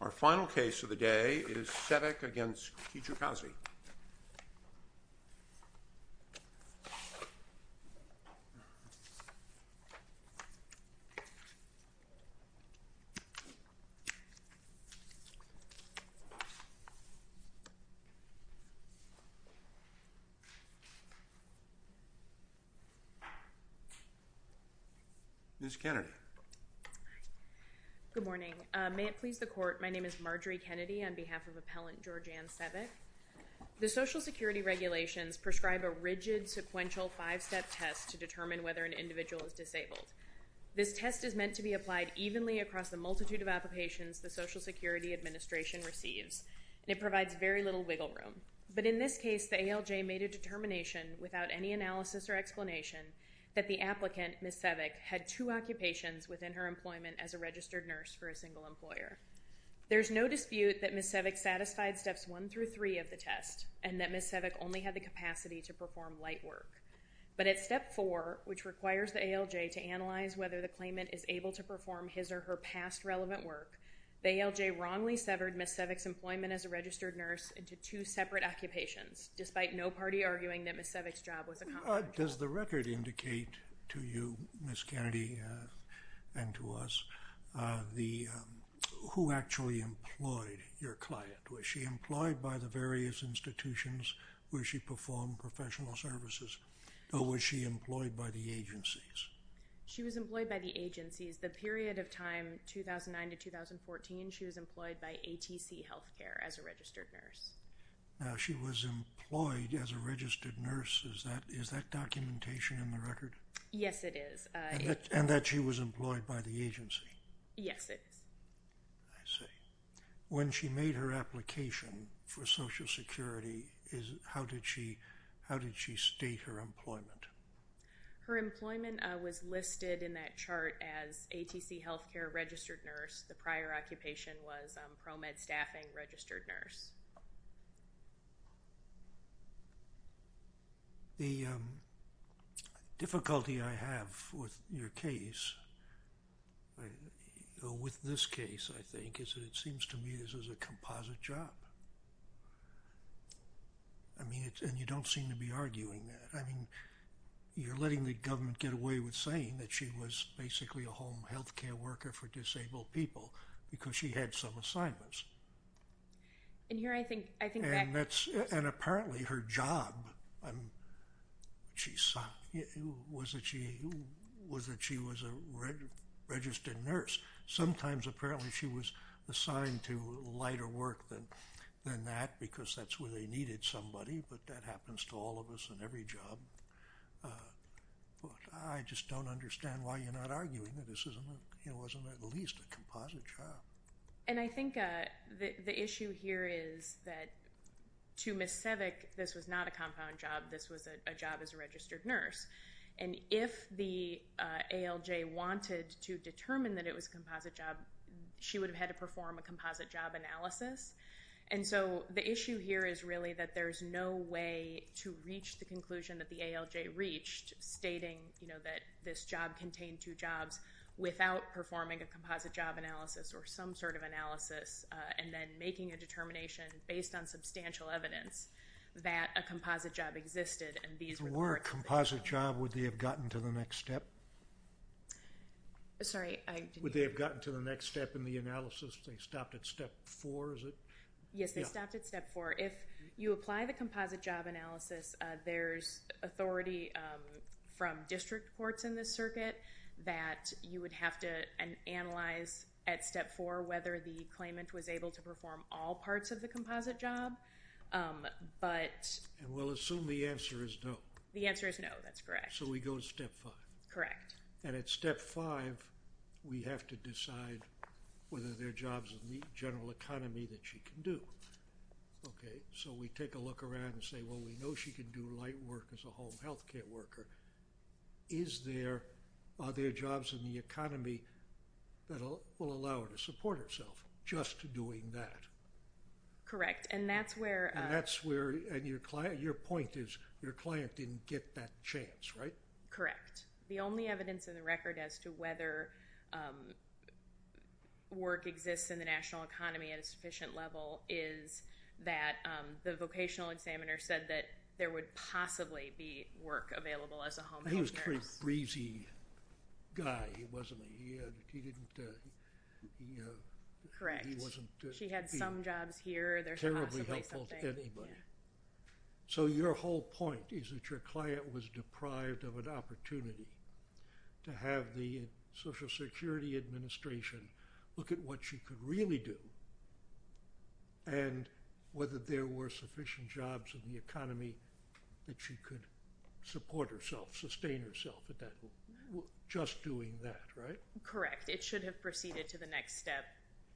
Our final case of the day is Sevec v. Kijakazi. Marjorie Kennedy The Social Security regulations prescribe a rigid, sequential, five-step test to determine whether an individual is disabled. This test is meant to be applied evenly across the multitude of applications the Social Security Administration receives, and it provides very little wiggle room. But in this case, the ALJ made a determination without any analysis or explanation that the applicant, Ms. Sevec, had two occupations within her employment as a registered nurse for a single employer. There is no dispute that Ms. Sevec satisfied Steps 1 through 3 of the test, and that Ms. Sevec only had the capacity to perform light work. But at Step 4, which requires the ALJ to analyze whether the claimant is able to perform his or her past relevant work, the ALJ wrongly severed Ms. Sevec's employment as a registered nurse into two separate occupations, despite no party arguing that Ms. Sevec's job was accomplished. Does the record indicate to you, Ms. Kennedy, and to us, who actually employed your client? Was she employed by the various institutions where she performed professional services, or was she employed by the agencies? She was employed by the agencies. The period of time 2009 to 2014, she was employed by ATC Healthcare as a registered nurse. Now, she was employed as a registered nurse. Is that documentation in the record? Yes, it is. And that she was employed by the agency? Yes, it is. I see. When she made her application for Social Security, how did she state her employment? Her employment was listed in that chart as ATC Healthcare registered nurse. The prior occupation was pro-med staffing registered nurse. The difficulty I have with your case, with this case, I think, is that it seems to me this is a composite job. I mean, and you don't seem to be arguing that. I mean, you're letting the government get away with saying that she was basically a healthcare worker for disabled people because she had some assignments. And here I think that... And apparently her job was that she was a registered nurse. Sometimes, apparently, she was assigned to lighter work than that because that's where they needed somebody, but that happens to all of us in every job. I just don't understand why you're not arguing that this wasn't at least a composite job. And I think the issue here is that to Ms. Sevek, this was not a compound job. This was a job as a registered nurse. And if the ALJ wanted to determine that it was a composite job, she would have had to perform a composite job analysis. And so the issue here is really that there's no way to reach the conclusion that the ALJ reached stating that this job contained two jobs without performing a composite job analysis or some sort of analysis and then making a determination based on substantial evidence that a composite job existed and these were the work that they did. If it were a composite job, would they have gotten to the next step? Sorry, I didn't hear you. Would they have gotten to the next step in the analysis? They stopped at step four, is it? Yes, they stopped at step four. If you apply the composite job analysis, there's authority from district courts in this circuit that you would have to analyze at step four whether the claimant was able to perform all parts of the composite job, but... And we'll assume the answer is no. The answer is no, that's correct. So we go to step five. Correct. And at step five, we have to decide whether there are jobs in the general economy that she can do. Okay. So we take a look around and say, well, we know she can do light work as a home health care worker. Are there jobs in the economy that will allow her to support herself just doing that? Correct, and that's where... And that's where... And your point is your client didn't get that chance, right? Correct. The only evidence in the record as to whether work exists in the national economy at a sufficient level is that the vocational examiner said that there would possibly be work available as a home health care worker. He was a pretty breezy guy, wasn't he? He didn't... Correct. He wasn't... She had some jobs here, there's possibly something... Terribly helpful to anybody. So your whole point is that your client was deprived of an opportunity to have the Social Security Administration look at what she could really do and whether there were sufficient jobs in the economy that she could support herself, sustain herself just doing that, right? Correct. It should have proceeded to the next step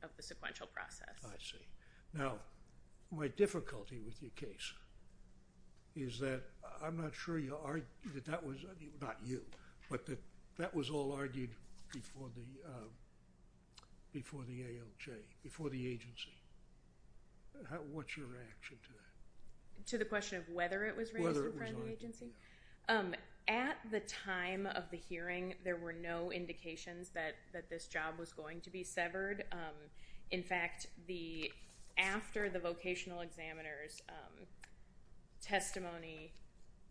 of the sequential process. I see. Now, my difficulty with your case is that I'm not sure that that was... Not you, but that that was all argued before the ALJ, before the agency. What's your reaction to that? To the question of whether it was raised in front of the agency? At the time of the hearing, there were no indications that this job was going to be severed. In fact, after the vocational examiner's testimony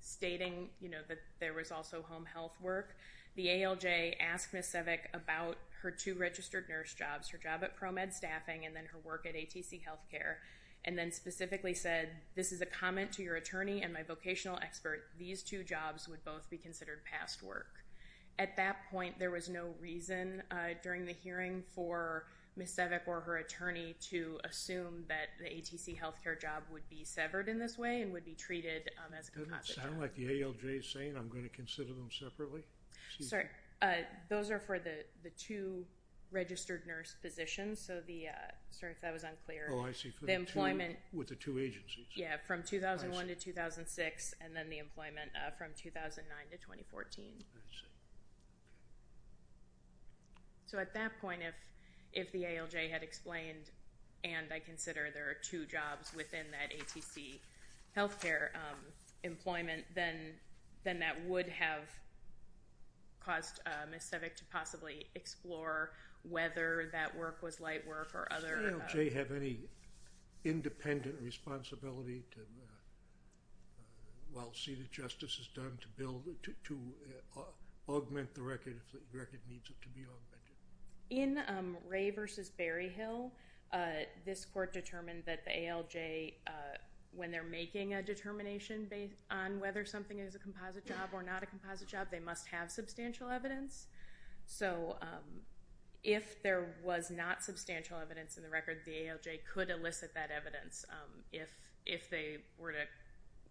stating that there was also home health work, the ALJ asked Ms. Sevek about her two registered nurse jobs, her job at ProMed Staffing and then her work at ATC Healthcare, and then specifically said, this is a comment to your attorney and my vocational expert. These two jobs would both be considered past work. At that point, there was no reason during the hearing for Ms. Sevek or her attorney to assume that the ATC Healthcare job would be severed in this way and would be treated as a composite job. It doesn't sound like the ALJ is saying, I'm going to consider them separately. Sorry. Those are for the two registered nurse positions. Sir, if that was unclear. Oh, I see. The employment... With the two agencies. Yeah, from 2001 to 2006 and then the employment from 2009 to 2014. I see. So at that point, if the ALJ had explained, and I consider there are two jobs within that ATC Healthcare employment, then that would have caused Ms. Sevek to possibly explore whether that work was light work or other... independent responsibility while seated justice is done to augment the record if the record needs it to be augmented. In Ray v. Berryhill, this court determined that the ALJ, when they're making a determination based on whether something is a composite job or not a composite job, they must have substantial evidence. So if there was not substantial evidence in the record, the ALJ could elicit that evidence if they were to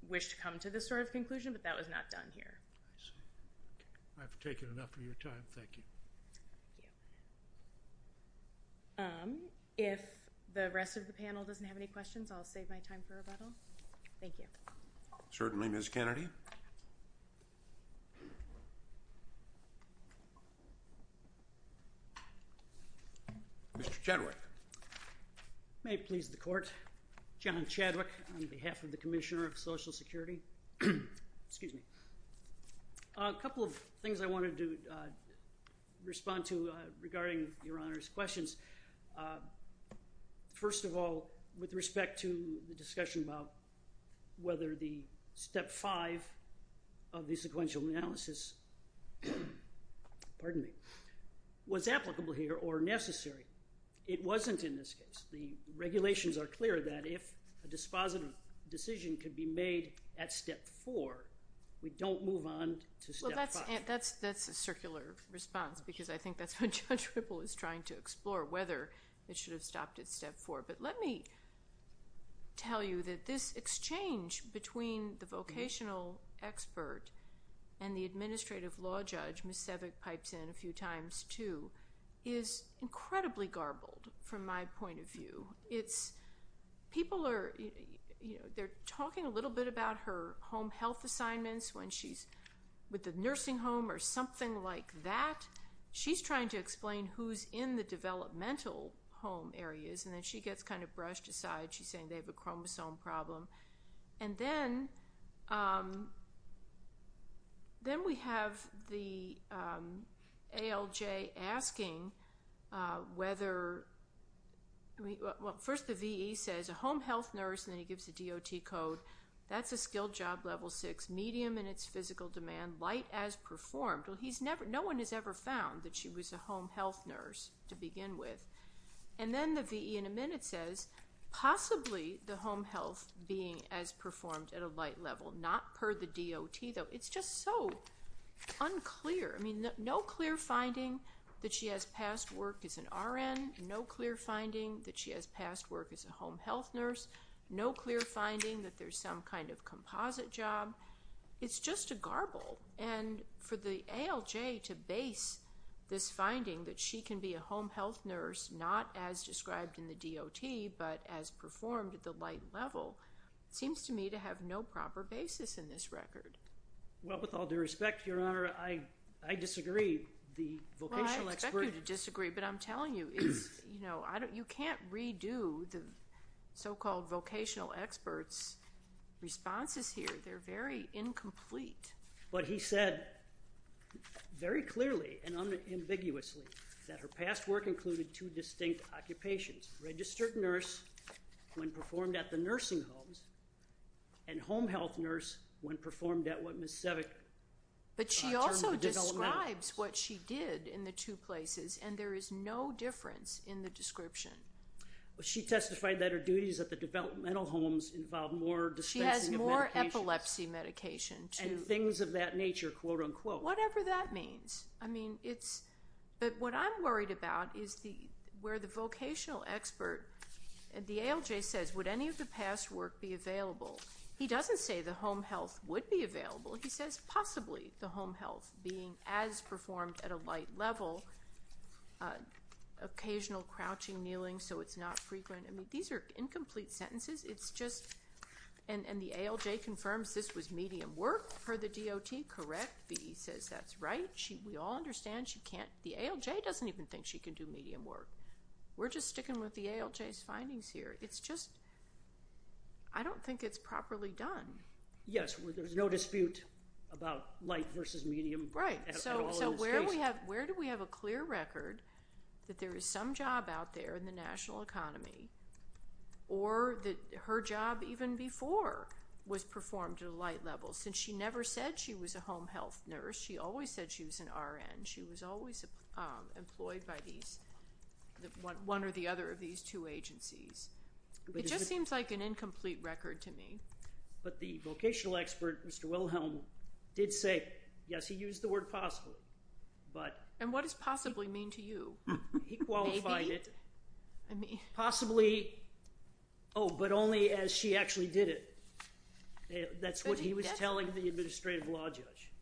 wish to come to this sort of conclusion, but that was not done here. I see. I've taken enough of your time. Thank you. Thank you. If the rest of the panel doesn't have any questions, I'll save my time for rebuttal. Thank you. Certainly, Ms. Kennedy. Mr. Chadwick. May it please the Court. John Chadwick on behalf of the Commissioner of Social Security. Excuse me. A couple of things I wanted to respond to regarding Your Honor's questions. First of all, with respect to the discussion about whether the Step 5 of the sequential analysis was applicable here or necessary. It wasn't in this case. The regulations are clear that if a dispositive decision could be made at Step 4, we don't move on to Step 5. Well, that's a circular response because I think that's what Judge Ripple is trying to explore, whether it should have stopped at Step 4. But let me tell you that this exchange between the vocational expert and the administrative law judge, Ms. Sevig pipes in a few times too, is incredibly garbled from my point of view. People are talking a little bit about her home health assignments when she's with the nursing home or something like that. She's trying to explain who's in the developmental home areas, and then she gets kind of brushed aside. She's saying they have a chromosome problem. And then we have the ALJ asking whether we – well, first the V.E. says a home health nurse, and then he gives a DOT code. That's a skilled job level 6, medium in its physical demand, light as performed. No one has ever found that she was a home health nurse to begin with. And then the V.E. in a minute says possibly the home health being as performed at a light level, not per the DOT though. It's just so unclear. I mean, no clear finding that she has past work as an RN, no clear finding that she has past work as a home health nurse, no clear finding that there's some kind of composite job. It's just a garble. And for the ALJ to base this finding that she can be a home health nurse not as described in the DOT but as performed at the light level seems to me to have no proper basis in this record. Well, with all due respect, Your Honor, I disagree. The vocational expert – Well, I expect you to disagree, but I'm telling you, you can't redo the so-called vocational expert's responses here. They're very incomplete. But he said very clearly and unambiguously that her past work included two distinct occupations, registered nurse when performed at the nursing homes and home health nurse when performed at what Ms. Sevick termed the developmental homes. But she also describes what she did in the two places, and there is no difference in the description. Well, she testified that her duties at the developmental homes involved more dispensing of medications. And things of that nature, quote, unquote. Whatever that means. I mean, it's – but what I'm worried about is where the vocational expert – the ALJ says, would any of the past work be available? He doesn't say the home health would be available. He says possibly the home health being as performed at a light level, occasional crouching, kneeling so it's not frequent. I mean, these are incomplete sentences. It's just – and the ALJ confirms this was medium work per the DOT, correct? He says that's right. We all understand she can't – the ALJ doesn't even think she can do medium work. We're just sticking with the ALJ's findings here. It's just – I don't think it's properly done. Yes, there's no dispute about light versus medium at all in this case. Right. So where do we have a clear record that there is some job out there in the national economy or that her job even before was performed at a light level since she never said she was a home health nurse. She always said she was an RN. She was always employed by these – one or the other of these two agencies. It just seems like an incomplete record to me. But the vocational expert, Mr. Wilhelm, did say, yes, he used the word possibly. And what does possibly mean to you? He qualified it. Possibly – oh, but only as she actually did it. That's what he was telling the administrative law judge.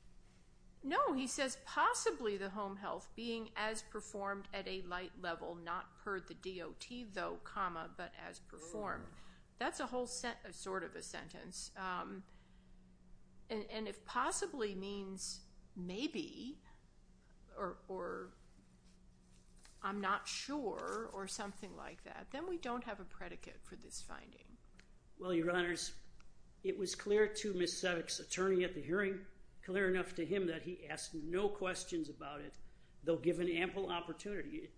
No, he says possibly the home health being as performed at a light level, not per the DOT, though, comma, but as performed. That's a whole sort of a sentence. And if possibly means maybe or I'm not sure or something like that, then we don't have a predicate for this finding. Well, Your Honors, it was clear to Ms. Seddock's attorney at the hearing, clear enough to him that he asked no questions about it, though given ample opportunity.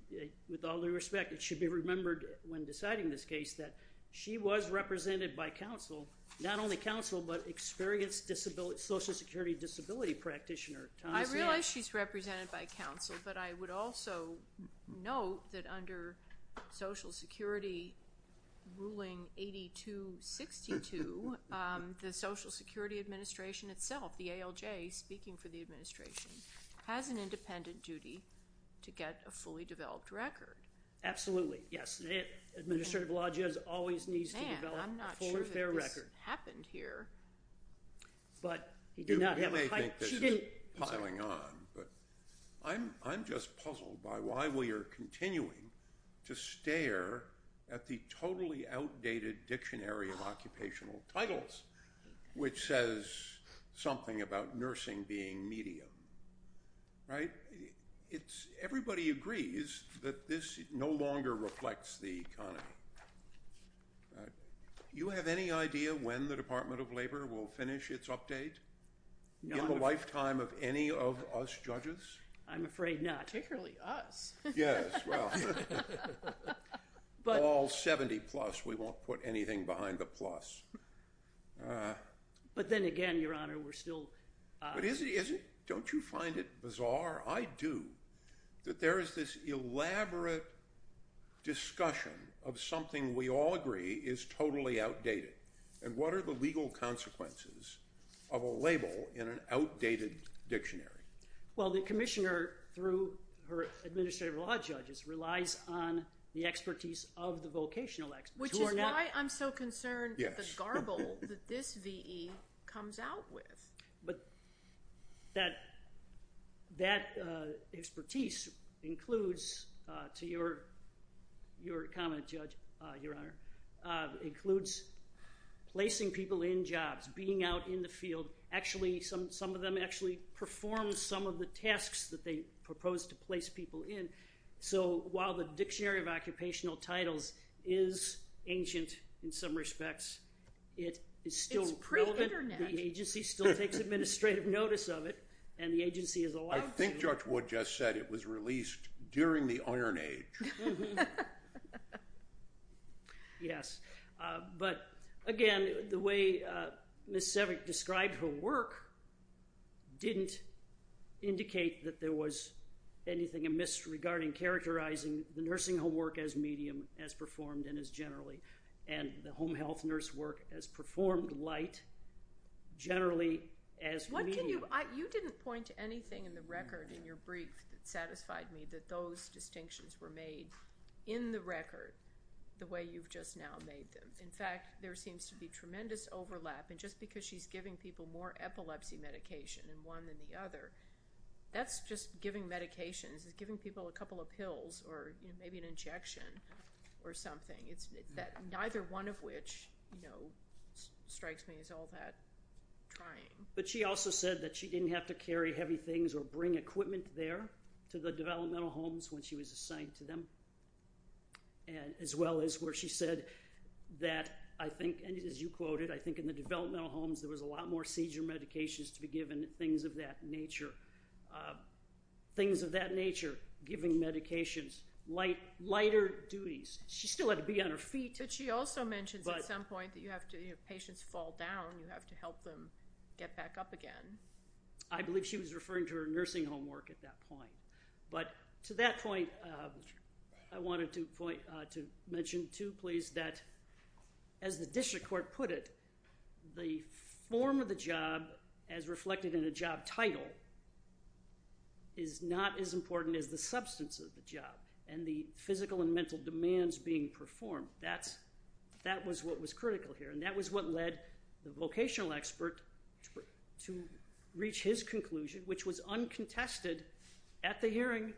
With all due respect, it should be remembered when deciding this case that she was represented by counsel not only counsel but experienced social security disability practitioner. I realize she's represented by counsel, but I would also note that under Social Security ruling 8262, the Social Security Administration itself, the ALJ speaking for the administration, has an independent duty to get a fully developed record. Absolutely, yes. Administrative law judge always needs to develop a fully fair record. I'm not sure that this happened here. You may think this is piling on, but I'm just puzzled by why we are continuing to stare at the totally outdated dictionary of occupational titles, which says something about nursing being medium, right? Everybody agrees that this no longer reflects the economy. You have any idea when the Department of Labor will finish its update? In the lifetime of any of us judges? I'm afraid not. Particularly us. Yes, well, all 70-plus. We won't put anything behind the plus. But then again, Your Honor, we're still… Don't you find it bizarre? I do. That there is this elaborate discussion of something we all agree is totally outdated. And what are the legal consequences of a label in an outdated dictionary? Well, the commissioner, through her administrative law judges, relies on the expertise of the vocational experts. Which is why I'm so concerned with the garble that this V.E. comes out with. But that expertise includes, to your comment, Judge, Your Honor, includes placing people in jobs, being out in the field. Actually, some of them actually perform some of the tasks that they propose to place people in. So while the Dictionary of Occupational Titles is ancient in some respects, it is still relevant. The agency still takes administrative notice of it, and the agency is allowed to. I think Judge Wood just said it was released during the Iron Age. Yes. But again, the way Ms. Sevek described her work didn't indicate that there was anything amiss regarding characterizing the nursing homework as medium, as performed, and as generally, and the home health nurse work as performed, light, generally, as medium. You didn't point to anything in the record in your brief that satisfied me, that those distinctions were made in the record the way you've just now made them. In fact, there seems to be tremendous overlap. And just because she's giving people more epilepsy medication in one than the other, that's just giving medications. It's giving people a couple of pills or maybe an injection or something. Neither one of which strikes me as all that trying. But she also said that she didn't have to carry heavy things or bring equipment there to the developmental homes when she was assigned to them, as well as where she said that I think, and as you quoted, I think in the developmental homes there was a lot more seizure medications to be given, things of that nature, things of that nature, giving medications, lighter duties. She still had to be on her feet. But she also mentions at some point that patients fall down, you have to help them get back up again. I believe she was referring to her nursing homework at that point. But to that point, I wanted to mention too, please, that as the district court put it, the form of the job as reflected in a job title is not as important as the substance of the job. And the physical and mental demands being performed, that was what was critical here. And that was what led the vocational expert to reach his conclusion, which was uncontested at the hearing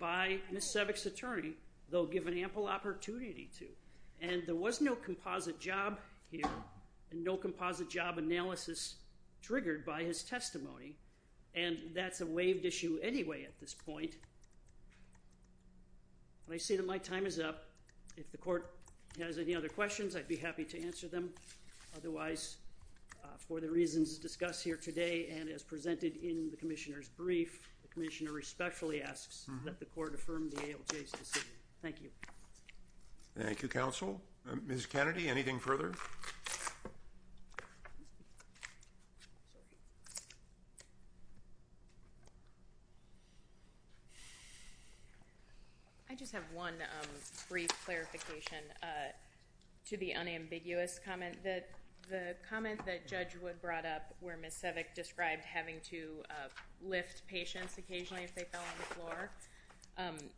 by Ms. Sebek's attorney, though given ample opportunity to. And there was no composite job here and no composite job analysis triggered by his testimony. And that's a waived issue anyway at this point. But I see that my time is up. If the court has any other questions, I'd be happy to answer them. Otherwise, for the reasons discussed here today and as presented in the commissioner's brief, the commissioner respectfully asks that the court affirm the ALJ's decision. Thank you. Thank you, counsel. Ms. Kennedy, anything further? No. I just have one brief clarification to the unambiguous comment that the comment that Judge Wood brought up where Ms. Sebek described having to lift patients occasionally if they fell on the floor,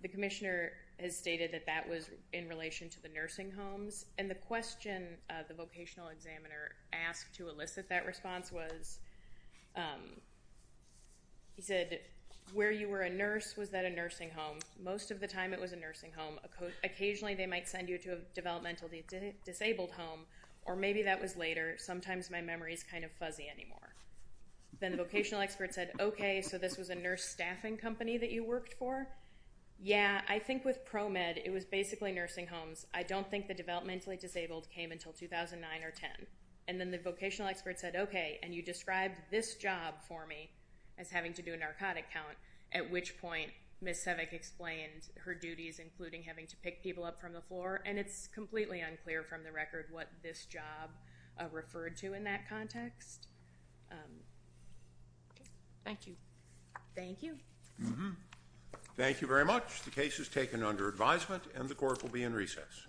the commissioner has stated that that was in relation to the nursing homes. And the question the vocational examiner asked to elicit that response was, he said, where you were a nurse, was that a nursing home? Most of the time it was a nursing home. Occasionally they might send you to a developmental disabled home, or maybe that was later. Sometimes my memory is kind of fuzzy anymore. Then the vocational expert said, okay, so this was a nurse staffing company that you worked for? Yeah, I think with ProMed it was basically nursing homes. I don't think the developmentally disabled came until 2009 or 2010. And then the vocational expert said, okay, and you described this job for me as having to do a narcotic count, at which point Ms. Sebek explained her duties including having to pick people up from the floor, and it's completely unclear from the record what this job referred to in that context. Thank you. Thank you. Thank you very much. The case is taken under advisement, and the court will be in recess.